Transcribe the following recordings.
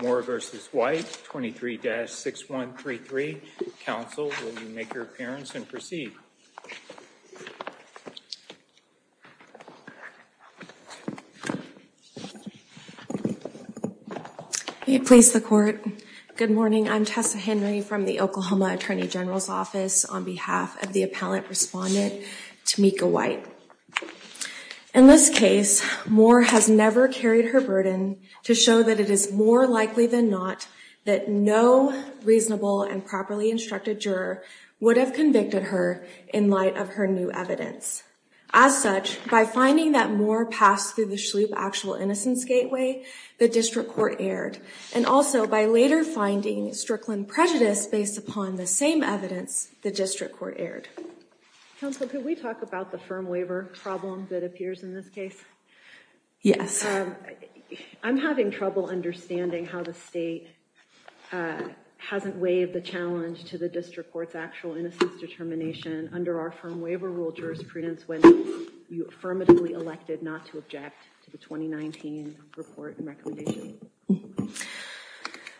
Moore v. White 23-6133. Counsel, will you make your appearance and proceed? Please the court. Good morning. I'm Tessa Henry from the Oklahoma Attorney General's Office on behalf of the appellant respondent, Tamika White. In this case, Moore has never carried her burden to show that it is more likely than not that no reasonable and properly instructed juror would have convicted her in light of her new evidence. As such, by finding that Moore passed through the Shloop Actual Innocence Gateway, the district court erred. And also, by later finding Strickland prejudice based upon the same evidence, the district court erred. Counsel, can we talk about the firm waiver problem that appears in this case? Yes. I'm having trouble understanding how the state hasn't waived the challenge to the district court's actual innocence determination under our firm waiver rule jurisprudence when you affirmatively elected not to object to the 2019 report and recommendation.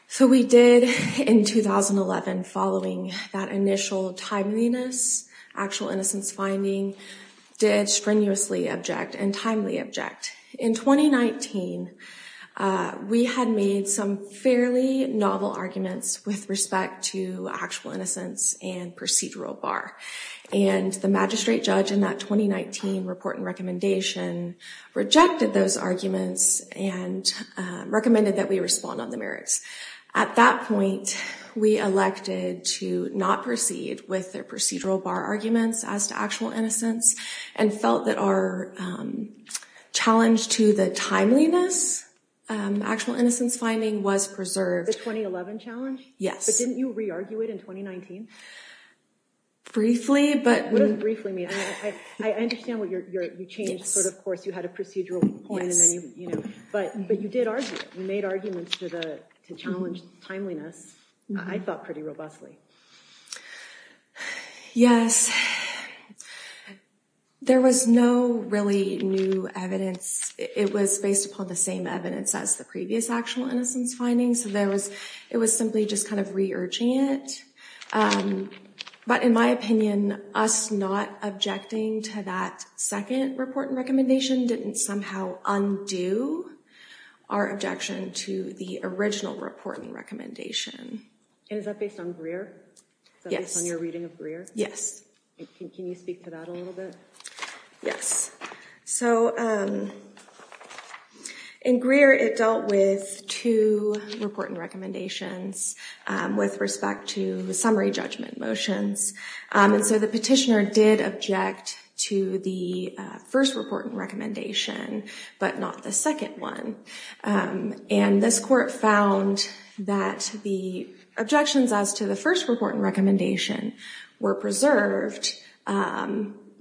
So we did in 2011, following that initial timeliness, actual innocence finding, did strenuously object and timely object. In 2019, we had made some fairly novel arguments with respect to actual innocence and procedural bar. And the magistrate judge in that 2019 report and recommendation rejected those arguments and recommended that we respond on the merits. At that point, we elected to not proceed with their procedural bar arguments as to actual innocence and felt that our challenge to the timeliness, actual innocence finding was preserved. The 2011 challenge? Yes. But didn't you re-argue it in 2019? Briefly, but... What does briefly mean? I understand what you're, you changed sort of course, you had a procedural point and then you, you know, but, but you did argue, you made arguments to the, to challenge timeliness. I felt pretty robustly. Yes. There was no really new evidence. It was based upon the same evidence as the previous actual innocence findings. So there was, it was simply just kind of re-urging it. But in my opinion, us not objecting to that second report and recommendation didn't somehow undo our objection to the original report and recommendation. And is that based on Greer? Yes. Is that based on your reading of Greer? Yes. Can you speak to that a little bit? Yes. So in Greer, it dealt with two report and recommendations with respect to the summary report and recommendation, but not the second one. And this court found that the objections as to the first report and recommendation were preserved.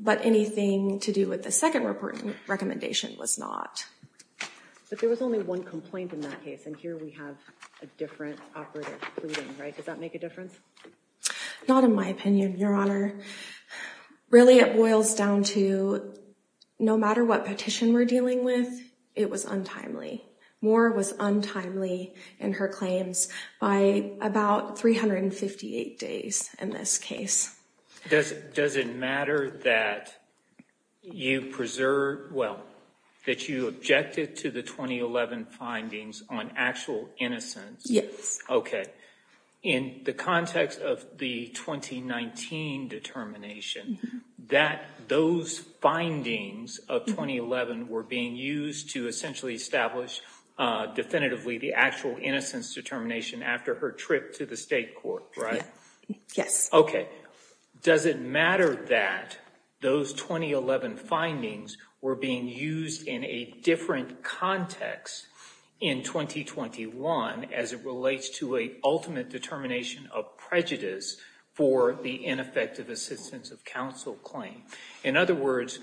But anything to do with the second report and recommendation was not. But there was only one complaint in that case. And here we have a different operative pleading, right? Does that make a difference? Not in my opinion, Your Honor. Really, it boils down to no matter what petition we're dealing with, it was untimely. Moore was untimely in her claims by about 358 days in this case. Does it matter that you preserve, well, that you objected to the 2011 findings on actual innocence? Yes. Okay. In the context of the 2019 determination, that those findings of 2011 were being used to essentially establish definitively the actual innocence determination after her trip to the state court, right? Yes. Okay. Does it matter that those 2011 findings were being used in a different context in 2021 as it relates to a ultimate determination of prejudice for the ineffective assistance of counsel claim? In other words,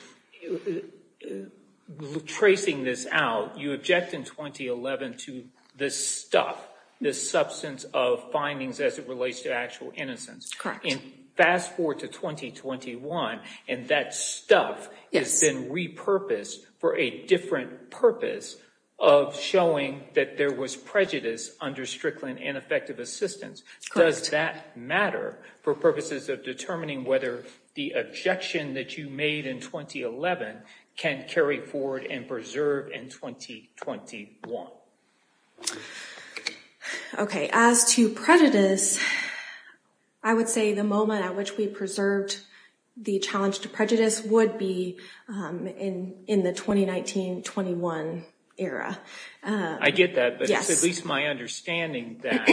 tracing this out, you object in 2011 to this stuff, this substance of findings as it relates to innocence. Correct. And fast forward to 2021 and that stuff has been repurposed for a different purpose of showing that there was prejudice under Strickland ineffective assistance. Does that matter for purposes of determining whether the objection that you made in 2011 can carry forward and preserve in 2021? Okay. As to prejudice, I would say the moment at which we preserved the challenge to prejudice would be in the 2019-21 era. I get that, but it's at least my understanding that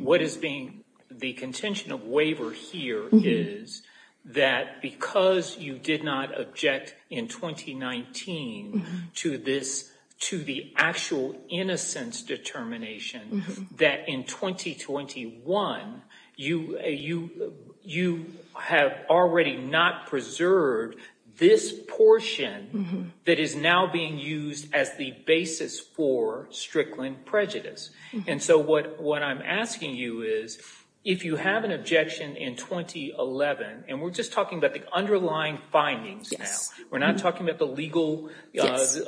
what is being the contention of waiver here is that because you did not object in 2019 to this, to the actual innocence determination, that in 2021 you have already not preserved this portion that is now being used as the basis for Strickland prejudice. And so what I'm asking you is if you have an objection in 2011, and we're just talking about underlying findings now. We're not talking about the legal glaze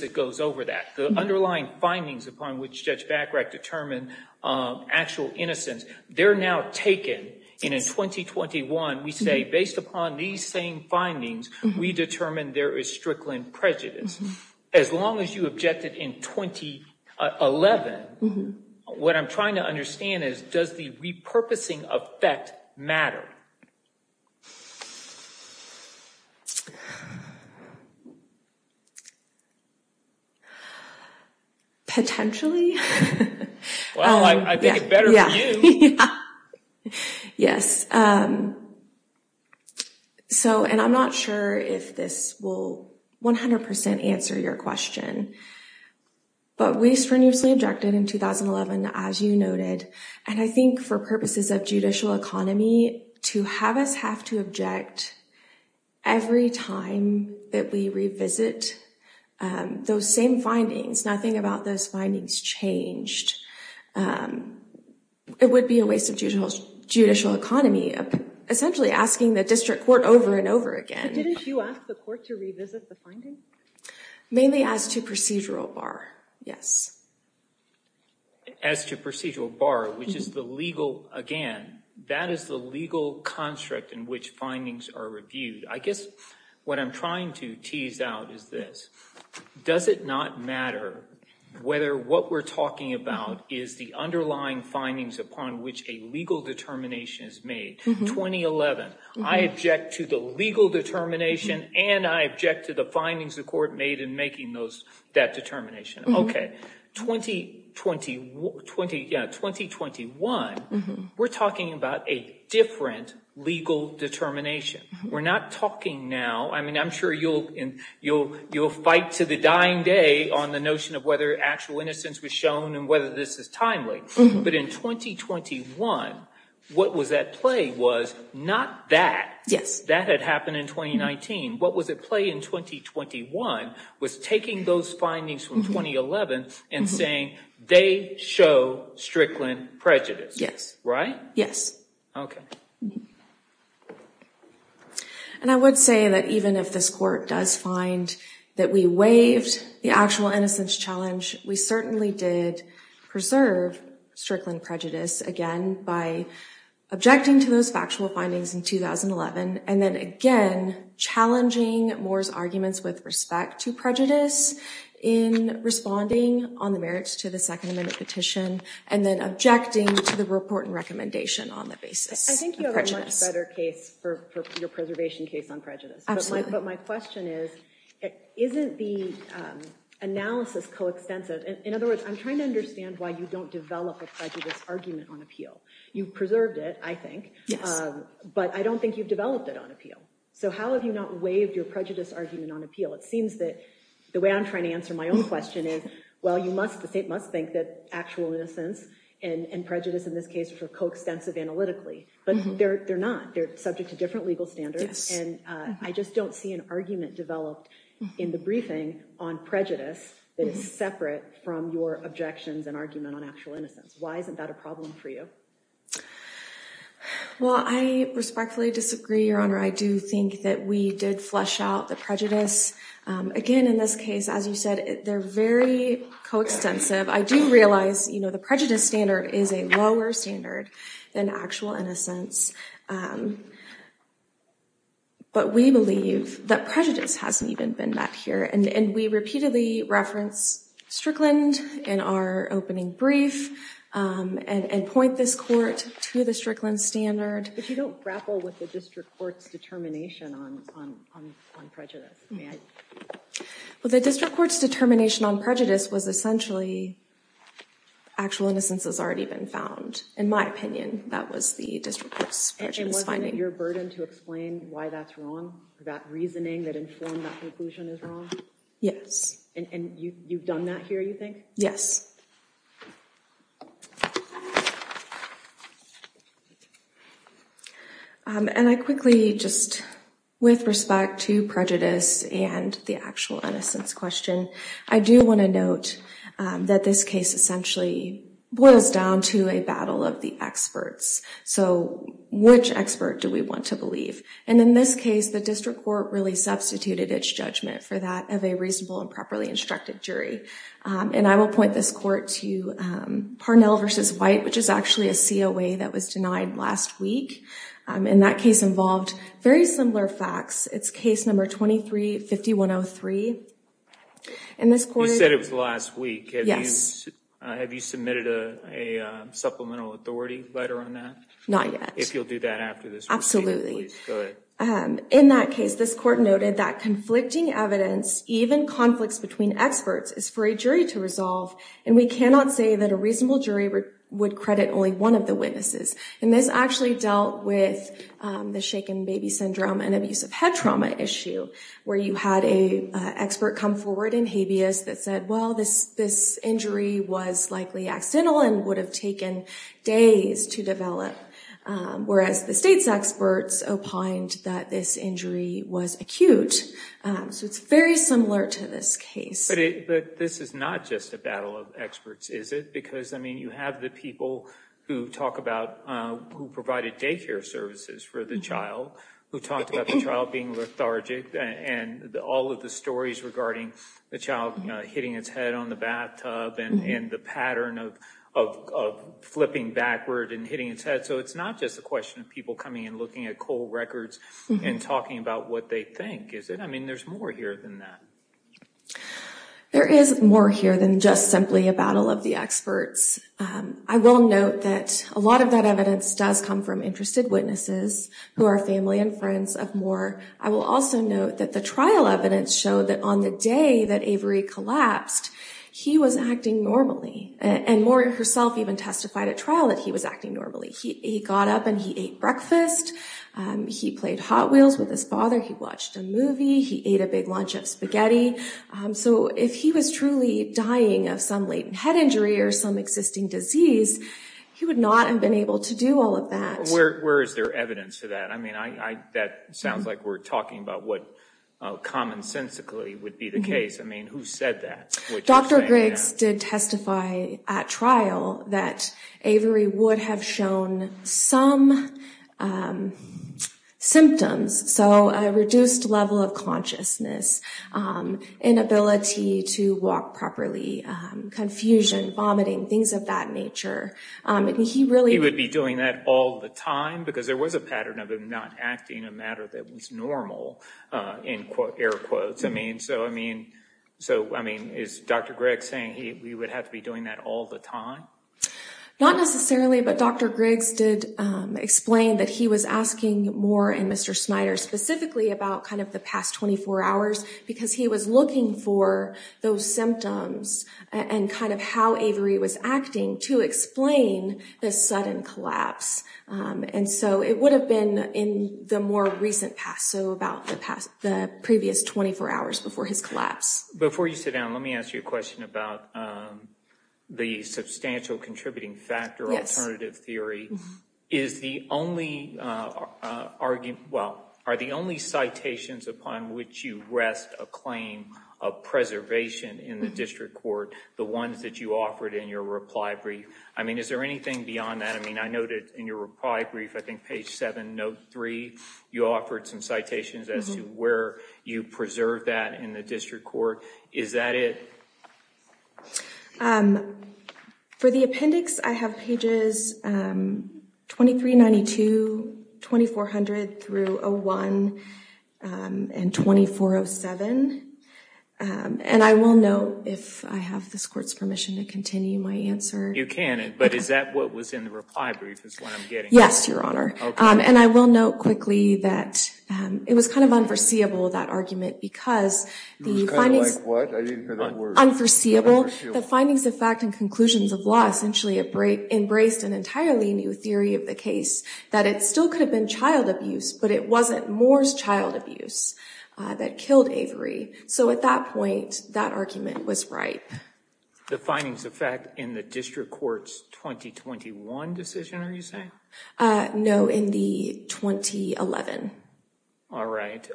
that goes over that. The underlying findings upon which Judge Bachrach determined actual innocence, they're now taken and in 2021 we say based upon these same findings, we determine there is Strickland prejudice. As long as you objected in 2011, what I'm trying to understand is does the repurposing effect matter? Potentially. Well, I think it better for you. Yes. And I'm not sure if this will 100% answer your question, but we strenuously objected in 2011, as you noted, and I think for purposes of judicial economy, to have us have to object every time that we revisit those same findings, nothing about those findings changed. It would be a waste of judicial economy, essentially asking the district court over and over again. But didn't you ask the court to revisit the findings? Mainly as to procedural bar, yes. As to procedural bar, which is the legal, again, that is the legal construct in which findings are reviewed. I guess what I'm trying to tease out is this. Does it not matter whether what we're talking about is the underlying findings upon which a legal determination is made? 2011, I object to the legal determination and I object to the findings the court made in making that determination. Okay. 2021, we're talking about a different legal determination. We're not talking now, I mean, I'm sure you'll fight to the dying day on the notion of whether actual innocence was shown and whether this is timely. But in 2021, what was at play was not that. That had happened in 2019. What was at play in 2021 was taking those findings from 2011 and saying they show Strickland prejudice. Yes. Right? Yes. Okay. And I would say that even if this court does find that we waived the actual innocence challenge, we certainly did preserve Strickland prejudice again by objecting to those factual findings in 2011. And then again, challenging Moore's arguments with respect to prejudice in responding on the merits to the second amendment petition, and then objecting to the report and recommendation on the basis of prejudice. I think you have a much better case for your preservation case on prejudice. Absolutely. But my question is, isn't the analysis coextensive? In other words, I'm trying to understand why you don't develop a prejudice argument on appeal. You preserved it, I think. But I don't think you've developed it on appeal. So how have you not waived your prejudice argument on appeal? It seems that the way I'm trying to answer my own question is, well, you must think that actual innocence and prejudice in this case are coextensive analytically, but they're not. They're subject to different legal standards. And I just don't see an argument developed in the briefing on prejudice that is separate from your objections and argument on innocence. Why isn't that a problem for you? Well, I respectfully disagree, Your Honor. I do think that we did flesh out the prejudice. Again, in this case, as you said, they're very coextensive. I do realize the prejudice standard is a lower standard than actual innocence. But we believe that prejudice hasn't even been met here. And we repeatedly reference Strickland in our opening brief and point this court to the Strickland standard. But you don't grapple with the district court's determination on prejudice. Well, the district court's determination on prejudice was essentially actual innocence has already been found. In my opinion, that was the district court's prejudice finding. And wasn't it your burden to explain why that's wrong, that reasoning that informed that conclusion is wrong? Yes. And you've done that here, you think? Yes. And I quickly just with respect to prejudice and the actual innocence question, I do want to note that this case essentially boils down to a battle of the experts. So which expert do we want to And in this case, the district court really substituted its judgment for that of a reasonable and properly instructed jury. And I will point this court to Parnell v. White, which is actually a COA that was denied last week. And that case involved very similar facts. It's case number 23-5103. You said it was last week. Yes. Have you submitted a supplemental authority letter on that? Not yet. If you'll do that after this. Absolutely. Go ahead. In that case, this court noted that conflicting evidence, even conflicts between experts, is for a jury to resolve. And we cannot say that a reasonable jury would credit only one of the witnesses. And this actually dealt with the shaken baby syndrome and abusive head trauma issue, where you had a expert come forward in habeas that said, well, this injury was likely accidental and would have taken days to develop. Whereas the state's experts opined that this injury was acute. So it's very similar to this case. But this is not just a battle of experts, is it? Because, I mean, you have the people who talk about who provided daycare services for the child, who talked about the child being lethargic and all of the stories regarding the child hitting its head on the bathtub and the pattern of flipping backward and hitting its head. So it's not just a question of people coming and looking at cold records and talking about what they think, is it? I mean, there's more here than that. There is more here than just simply a battle of the experts. I will note that a lot of that evidence does come from interested witnesses who are family and friends of Moore. I will also note that the trial evidence showed that on the day that Avery collapsed, he was acting normally. And Moore herself even testified at trial that he was acting normally. He got up and he ate breakfast, he played Hot Wheels with his father, he watched a movie, he ate a big lunch of spaghetti. So if he was truly dying of some latent head injury or some existing disease, he would not have been able to do all of that. Where is there evidence for that? I mean, that sounds like we're talking about what commonsensically would be the case. I mean, who said that? Dr. Griggs did testify at trial that Avery would have shown some symptoms. So a reduced level of consciousness, inability to walk properly, confusion, vomiting, things of that nature. He really would be doing that all the time because there was a pattern of not acting a matter that was normal, in air quotes. I mean, so I mean, so I mean, is Dr. Griggs saying he would have to be doing that all the time? Not necessarily, but Dr. Griggs did explain that he was asking Moore and Mr. Snyder specifically about kind of the past 24 hours because he was looking for those symptoms and kind of how Avery was acting to explain the sudden collapse. And so it would have been in the more recent past, so about the past, the previous 24 hours before his collapse. Before you sit down, let me ask you a question about the substantial contributing factor alternative theory. Is the only argument, well, are the only citations upon which you rest a claim of preservation in the district court the ones that you offered in your reply brief? I mean, is there anything beyond that? I mean, I noted in your reply brief, I think page 7, note 3, you offered some citations as to where you preserve that in the district court. Is that it? For the appendix, I have pages 2392, 2400 through 01 and 2407. And I will note, if I have this court's permission to continue my answer. You can, but is that what was in the reply brief is what I'm getting? Yes, your honor. And I will note quickly that it was kind of unforeseeable, that argument, because the findings... Unforeseeable? The findings of fact and conclusions of law essentially embraced an entirely new theory of the case, that it still could have been child abuse, but it wasn't Moore's child abuse that killed Avery. So at that point, that argument was right. The findings of fact in the district court's 2021 decision, are you saying? No, in the 2011. All right.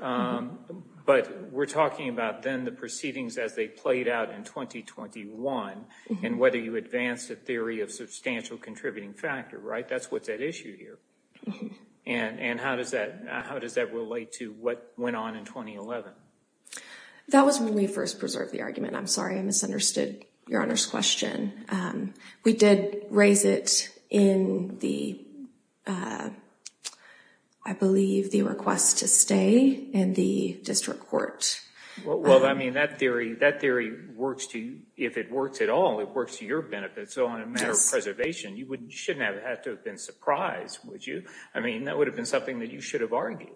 But we're talking about then the proceedings as they played out in 2021 and whether you theory of substantial contributing factor, right? That's what's at issue here. And how does that relate to what went on in 2011? That was when we first preserved the argument. I'm sorry, I misunderstood your honor's question. We did raise it in the, I believe the request to stay in the district court. Well, I mean, that theory works to, if it works at all, it works to your benefit. So on a matter of preservation, you wouldn't, you shouldn't have had to have been surprised, would you? I mean, that would have been something that you should have argued.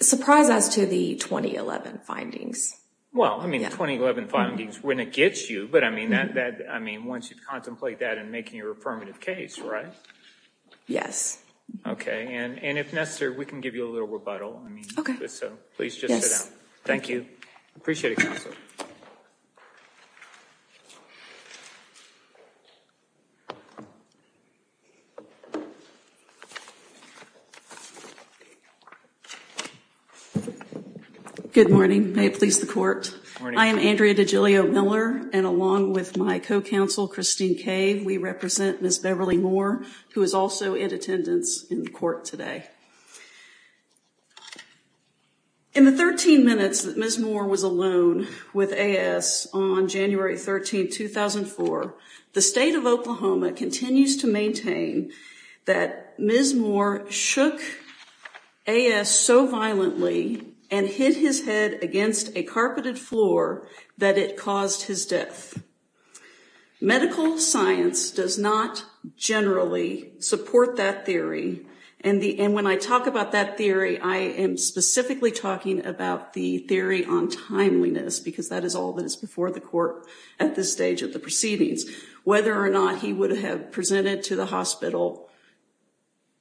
Surprised as to the 2011 findings. Well, I mean, the 2011 findings, when it gets you, but I mean, that, I mean, once you contemplate that and making your affirmative case, right? Yes. Okay. And if necessary, we can give you a little rebuttal. I mean, so please just sit down. Thank you. Appreciate it. Good morning. May it please the court. I am Andrea DeGilio Miller and along with my co-counsel, Christine Kaye, we represent Ms. Beverly Moore, who is also in attendance in court today. In the 13 minutes that Ms. Moore was alone with AS on January 13, 2004, the state of Oklahoma continues to maintain that Ms. Moore shook AS so violently and hit his head against a carpeted floor that it caused his death. Medical science does not generally support that theory. And the, and when I talk about that theory, I am specifically talking about the theory on timeliness, because that is all that is before the court at this stage of the proceedings, whether or not he would have presented to the hospital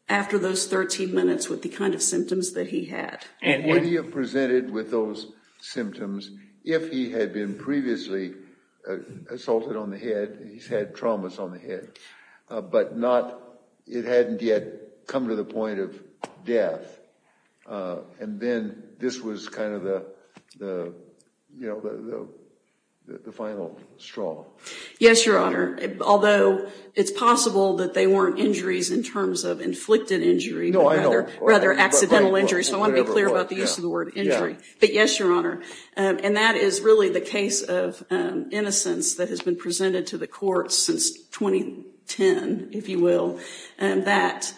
after those 13 minutes with the kind of symptoms that he had. And would he have presented with those symptoms if he had been previously assaulted on the head? He's had traumas on the head, but not, it hadn't yet come to the point of death. And then this was kind of the, you know, the final straw. Yes, Your Honor. Although it's possible that they weren't injuries in terms of inflicted injury, rather accidental injuries. So I want to be clear about the use of the word injury. But yes, Your Honor. And that is really the case of innocence that has been presented to the courts since 2010, if you will. And that,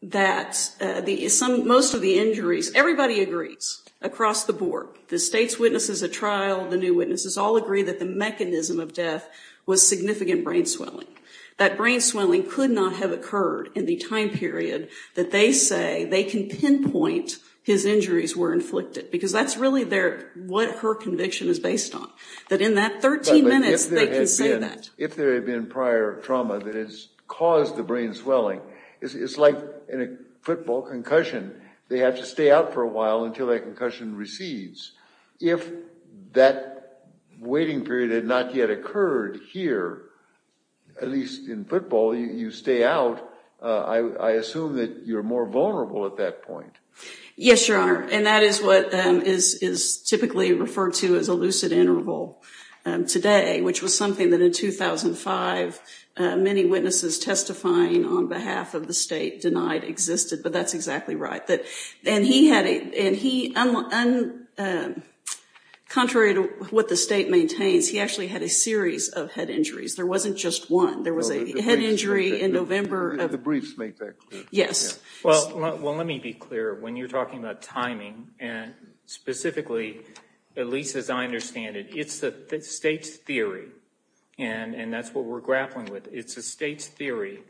that the, some, most of the injuries, everybody agrees across the board. The state's witnesses at trial, the new witnesses, all agree that the mechanism of death was significant brain swelling. That brain swelling could not have occurred in the time period that they say they can pinpoint his injuries were inflicted. Because that's really their, what her conviction is based on. That in that 13 minutes they can say that. If there had been prior trauma that has caused the brain swelling, it's like in a football concussion. They have to stay out for a while until that concussion recedes. If that waiting period had not yet occurred here, at least in football, you stay out. I assume that you're more vulnerable at that point. Yes, Your Honor. And that is what is typically referred to as a 2005 many witnesses testifying on behalf of the state denied existed. But that's exactly right. That, and he had a, and he, contrary to what the state maintains, he actually had a series of head injuries. There wasn't just one. There was a head injury in November. The briefs make that clear. Yes. Well, let me be clear. When you're talking about timing and specifically, at least as I understand it, it's the state's theory. And that's what we're grappling with. It's a state's theory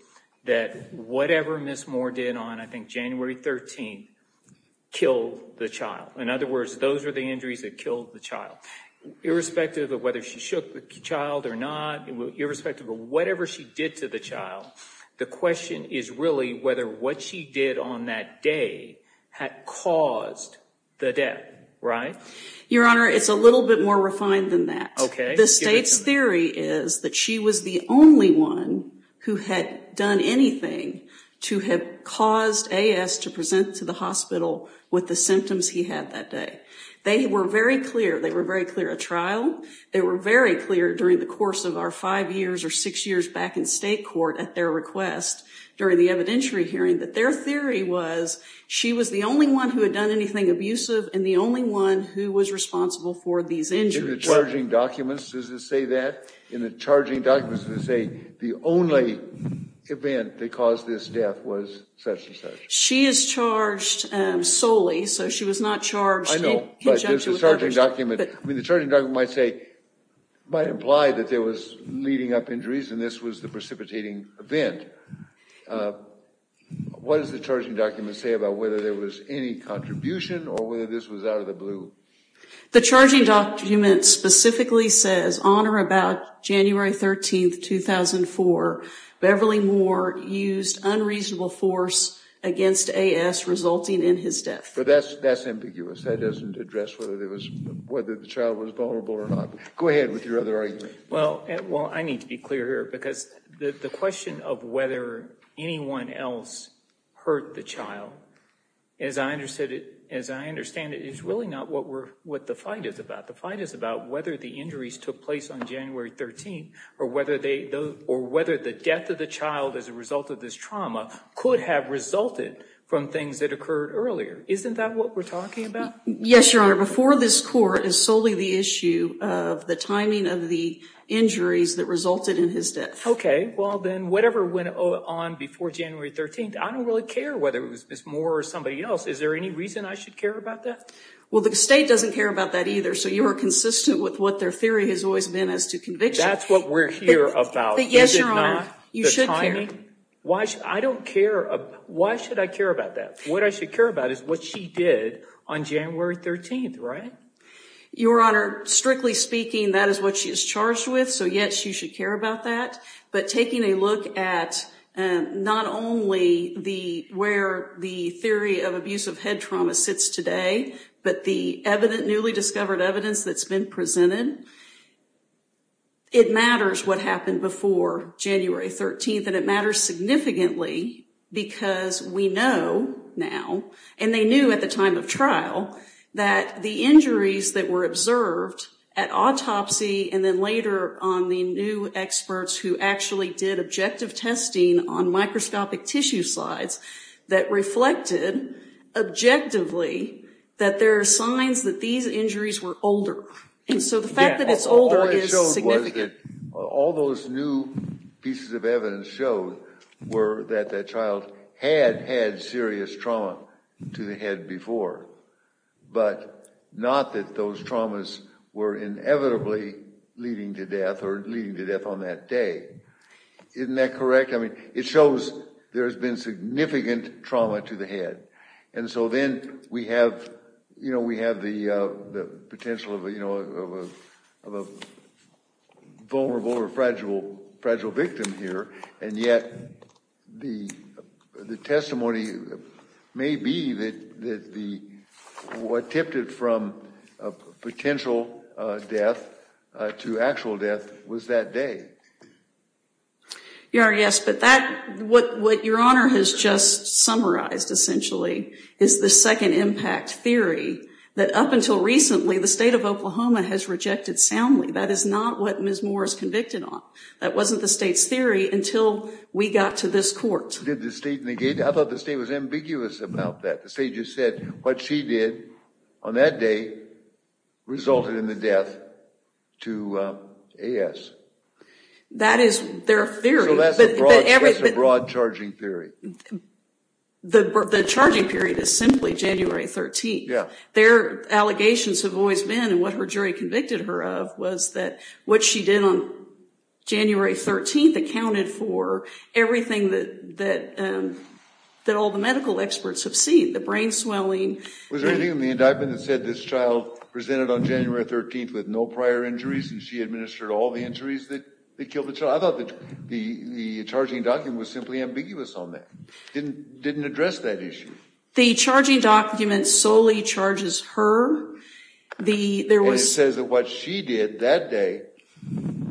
that whatever Ms. Moore did on, I think January 13th, killed the child. In other words, those are the injuries that killed the child. Irrespective of whether she shook the child or not, irrespective of whatever she did to the child, the question is really whether what she did on that day had caused the death, right? Your Honor, it's a little bit more refined than that. Okay. The state's theory is that she was the only one who had done anything to have caused A.S. to present to the hospital with the symptoms he had that day. They were very clear. They were very clear at trial. They were very clear during the course of our five years or six years back in state court at their request during the evidentiary hearing that their theory was she was the only one who had done anything abusive and the only one who was responsible for these injuries. In the charging documents, does it say that? In the charging documents, does it say the only event that caused this death was such and such? She is charged solely, so she was not charged. I know, but there's a charging document. I mean, the charging document might say, might imply that there was leading up injuries and this was the event. What does the charging document say about whether there was any contribution or whether this was out of the blue? The charging document specifically says on or about January 13, 2004, Beverly Moore used unreasonable force against A.S. resulting in his death. But that's that's ambiguous. That doesn't address whether there was whether the child was vulnerable or not. Go ahead with your other argument. Well, well, I need to be clear here because the question of whether anyone else hurt the child, as I understood it, as I understand it, is really not what we're what the fight is about. The fight is about whether the injuries took place on January 13th or whether they or whether the death of the child as a result of this trauma could have resulted from things that occurred earlier. Isn't that what we're talking about? Yes, your honor. Before this court is solely the issue of the timing of the injuries that resulted in his death. Okay. Well, then whatever went on before January 13th, I don't really care whether it was Miss Moore or somebody else. Is there any reason I should care about that? Well, the state doesn't care about that either. So you are consistent with what their theory has always been as to conviction. That's what we're here about. But yes, your honor, you should tell me why I don't care. Why should I care about that? What I should care about is what she did on January 13th, right? Your honor, strictly speaking, that is what she is charged with. So yes, you should care about that. But taking a look at not only where the theory of abusive head trauma sits today, but the newly discovered evidence that's been presented, it matters what happened before January 13th. And it matters significantly because we know now, and they knew at the time of trial, that the injuries that were observed at autopsy and then later on the new experts who actually did objective testing on microscopic tissue slides, that reflected objectively that there are signs that these injuries were older. And so the fact that it's older is significant. All those new pieces of evidence showed were that that child had had serious trauma to the head before. But not that those traumas were inevitably leading to death or leading to death on that day. Isn't that correct? I mean, it shows there's been significant trauma to the head. And so then we have, you know, we have the potential of a, you know, the testimony may be that what tipped it from a potential death to actual death was that day. Your Honor, yes. But that, what Your Honor has just summarized, essentially, is the second impact theory that up until recently, the state of Oklahoma has rejected soundly. That is not what Ms. Moore is convicted on. That wasn't the state's theory until we got to this court. Did the state negate it? I thought the state was ambiguous about that. The state just said what she did on that day resulted in the death to A.S. That is their theory. So that's a broad charging theory. The charging period is simply January 13th. Their allegations have always been, and what her jury convicted her of, was that what she did on January 13th accounted for everything that that all the medical experts have seen. The brain swelling. Was there anything in the indictment that said this child presented on January 13th with no prior injuries and she administered all the injuries that they killed the child? I thought that the charging document was simply ambiguous on that. It didn't address that issue. The charging document solely charges her. And it says that what she did that day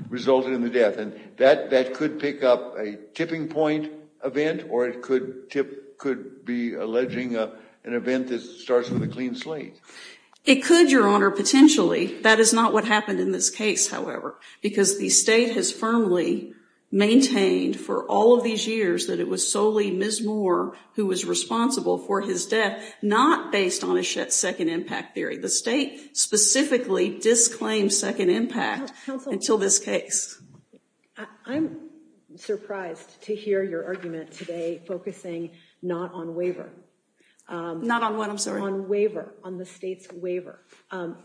resulted in the death. And that could pick up a tipping point event or it could tip could be alleging an event that starts with a clean slate. It could, your honor, potentially. That is not what happened in this case, however, because the state has firmly maintained for all of these years that it was solely Ms. Moore who was responsible for his death, not based on a second impact theory. The state specifically disclaimed second impact until this case. I'm surprised to hear your argument today focusing not on waiver. Not on what, I'm sorry? On waiver. On the state's waiver.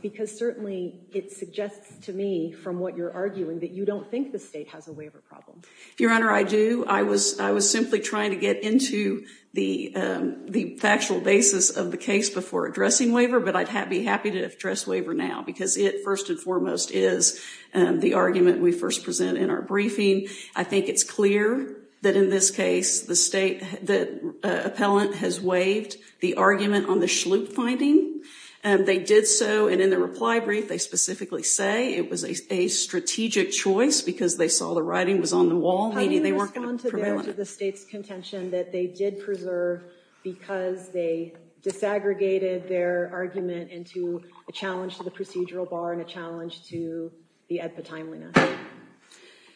Because certainly it suggests to me from what you're arguing that you don't think the state has a waiver problem. Your honor, I do. I was simply trying to get into the factual basis of the case before addressing waiver, but I'd be happy to address waiver now because it first and foremost is the argument we first present in our briefing. I think it's clear that in this case the state, the appellant has waived the argument on the Schlup finding. They did so and in the reply brief they specifically say it was a strategic choice because they saw the writing was on the wall. How do you respond to the state's contention that they did preserve because they disaggregated their argument into a challenge to the procedural bar and a challenge to the EDPA timeliness?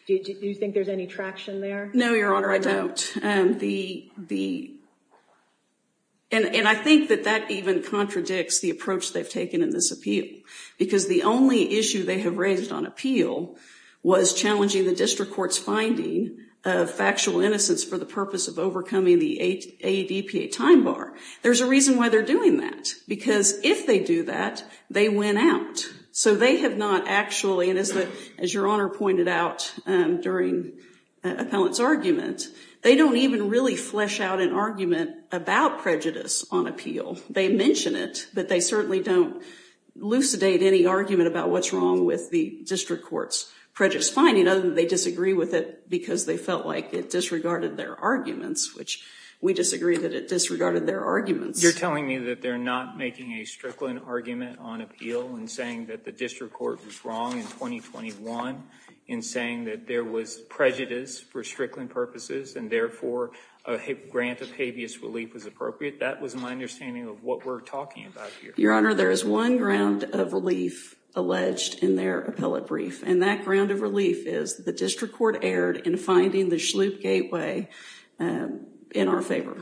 Do you think there's any traction there? No, your honor, I don't. And I think that that even contradicts the approach they've taken in this appeal because the only issue they have raised on appeal was challenging the district court's finding of factual innocence for the purpose of overcoming the ADPA time bar. There's a reason why they're doing that because if they do that, they win out. So they have not actually, and as your honor pointed out during the appellant's argument, they don't even really flesh out an argument about prejudice on appeal. They mention it, but they certainly don't lucidate any argument about what's wrong with the district court's prejudice finding other than they disagree with it because they felt like it disregarded their arguments, which we disagree that it disregarded their arguments. You're telling me that they're not making a Strickland argument on appeal and saying that the district court was wrong in 2021 in saying that there was prejudice for Strickland purposes and therefore a grant of habeas relief was appropriate? That was my understanding of what we're talking about here. Your honor, there is one ground of relief alleged in their appellate brief, and that ground of relief is the district court erred in finding the Schlupe gateway in our favor.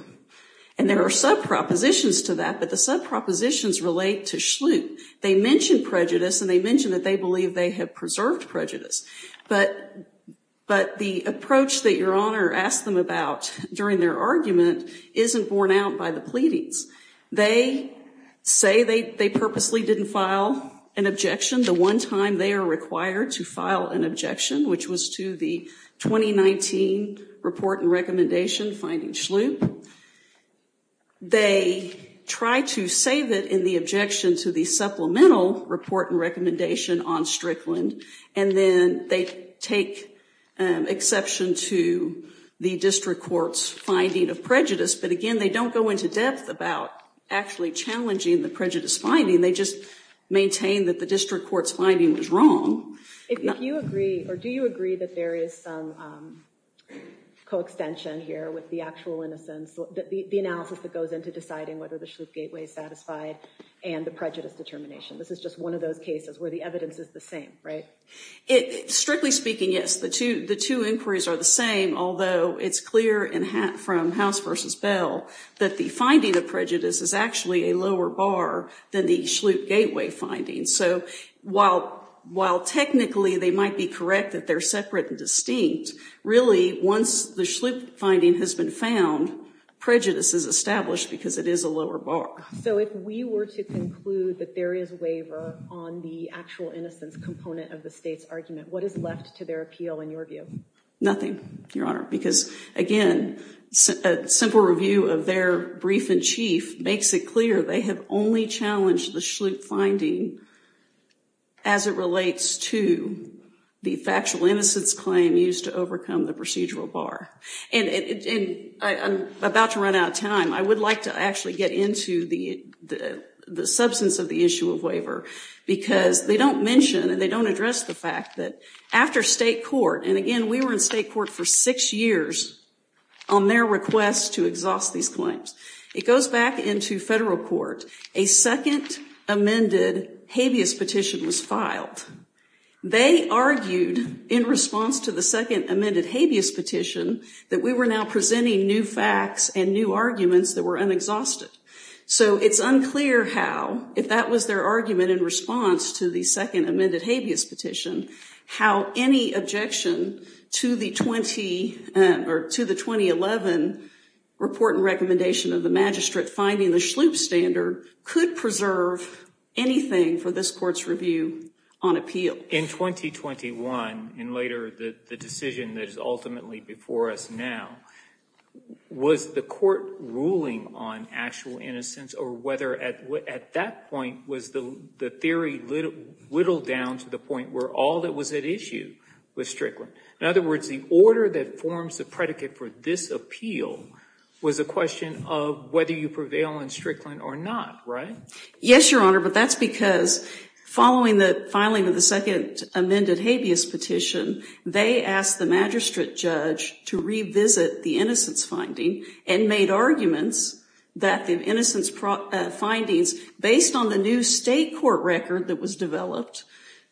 And there are sub-propositions to that, but the sub-propositions relate to Schlupe. They mentioned prejudice and they mentioned that they believe they have preserved prejudice, but the approach that your honor asked them about during their argument isn't borne out by the pleadings. They say they purposely didn't file an objection the one time they are required to file an objection, which was to the 2019 report and recommendation finding Schlupe. They try to save it in the objection to the supplemental report and recommendation on Strickland, and then they take exception to the district court's finding of prejudice. But again, they don't go into depth about actually challenging the prejudice finding. They just maintain that the district court's finding was wrong. If you agree, or do you agree that there is some co-extension here with the actual innocence that the analysis that goes into deciding whether the Schlupe gateway is satisfied and the prejudice determination. This is just one of those cases where the evidence is the same, right? Strictly speaking, yes. The two inquiries are the same, although it's clear from House v. Bell that the finding of prejudice is actually a lower bar than the Schlupe gateway findings. So while technically they might be correct that they're separate and distinct, really once the Schlupe finding has been found, prejudice is established because it is a lower bar. So if we were to conclude that there is waiver on the actual innocence component of the state's argument, what is left to their appeal in your view? Nothing, Your Honor, because again, a simple review of their brief-in-chief makes it clear they have only challenged the Schlupe finding as it relates to the factual innocence claim used to overcome the procedural bar. And I'm about to run out of time. I would like to actually get into the the substance of the issue of waiver because they don't mention and they don't address the fact that after state court, and again we were in state court for six years on their request to exhaust these claims, it goes back into federal court. A second amended habeas petition was filed. They argued in response to the second amended habeas petition that we were now presenting new facts and new arguments that were unexhausted. So it's unclear how, if that was their argument in response to the second amended habeas petition, how any objection to the 2011 report and recommendation of the magistrate finding the Schlupe standard could preserve anything for this court's review on appeal. In 2021, and later the decision that is ultimately before us now, was the court ruling on actual innocence or whether at that point was the theory whittled down to the point where all that was at issue with Strickland? In other words, the order that forms the predicate for this appeal was a question of whether you prevail in Strickland or not, right? Yes, Your Honor, but that's because following the filing of the second amended habeas petition, they asked the magistrate judge to revisit the innocence finding and made arguments that the innocence findings, based on the new state court record that was developed,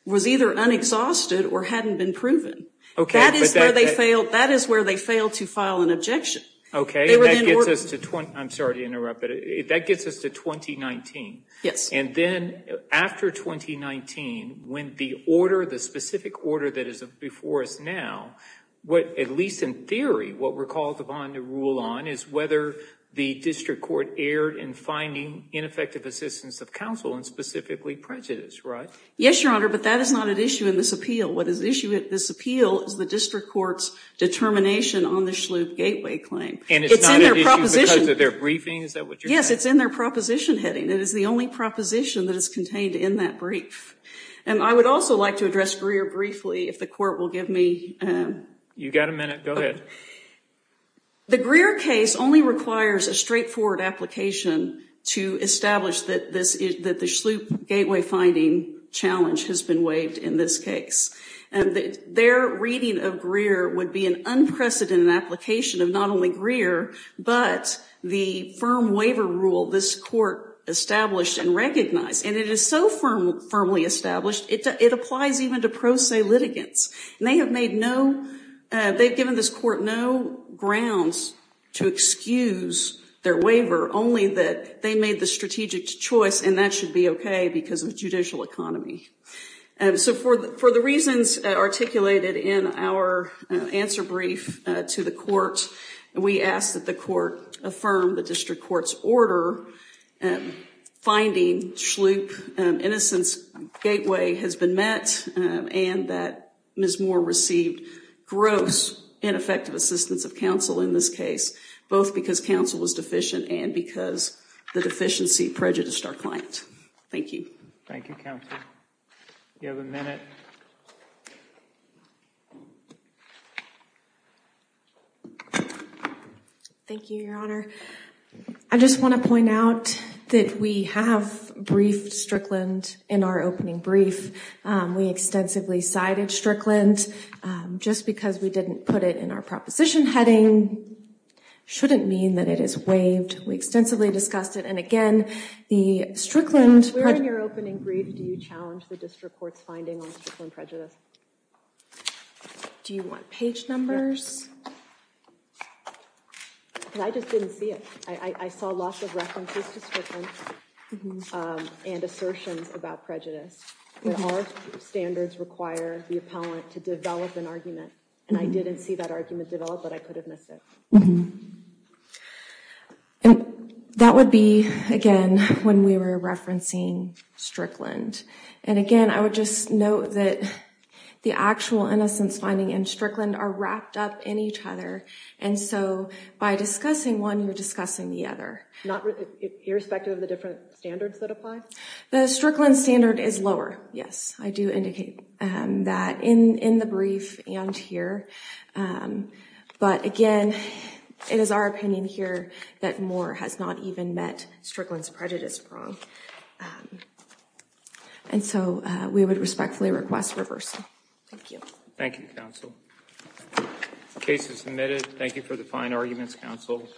was either unexhausted or hadn't been proven. That is where they failed to file an objection. Okay, I'm sorry to interrupt, but that gets us to 2019. Yes. And then after 2019, when the order, the specific order that is before us now, at least in theory, what we're called upon to rule on is whether the district court erred in finding ineffective assistance of counsel and specifically prejudice, right? Yes, Your Honor, but that is not at issue in this appeal. What is at issue in this appeal is the district court's determination on the Shloop Gateway claim. And it's not at issue because of their briefing? Is that what you're saying? Yes, it's in their proposition heading. It is the only proposition that is contained in that brief. And I would also like to address Greer briefly, if the court will give me... You've got a minute. Go ahead. The Greer case only requires a straightforward application to establish that the Shloop Their reading of Greer would be an unprecedented application of not only Greer, but the firm waiver rule this court established and recognized. And it is so firmly established, it applies even to pro se litigants. And they have made no... They've given this court no grounds to excuse their waiver, only that they made the strategic choice and that should be okay because of judicial economy. So for the reasons articulated in our answer brief to the court, we ask that the court affirm the district court's order finding Shloop Innocence Gateway has been met and that Ms. Moore received gross ineffective assistance of counsel in this case, both because counsel was deficient and because the deficiency prejudiced our client. Thank you. Thank you, counsel. You have a minute. Thank you, Your Honor. I just want to point out that we have briefed Strickland in our opening brief. We extensively cited Strickland. Just because we didn't put it in our proposition heading shouldn't mean that it is waived. We extensively discussed it. And again, the Strickland... Where in your opening brief do you challenge the district court's finding on Strickland prejudice? Do you want page numbers? I just didn't see it. I saw lots of references to Strickland and assertions about prejudice. Our standards require the appellant to develop an argument, and I didn't see that argument developed, but I could have missed it. That would be, again, when we were referencing Strickland. And again, I would just note that the actual innocence finding and Strickland are wrapped up in each other. And so by discussing one, you're discussing the other. Irrespective of the different standards that apply? The Strickland standard is lower. Yes, I do indicate that in the brief and here. But again, it is our opinion here that Moore has not even met Strickland's prejudice prong. And so we would respectfully request reversal. Thank you. Thank you, counsel. The case is submitted. Thank you for the fine arguments, counsel.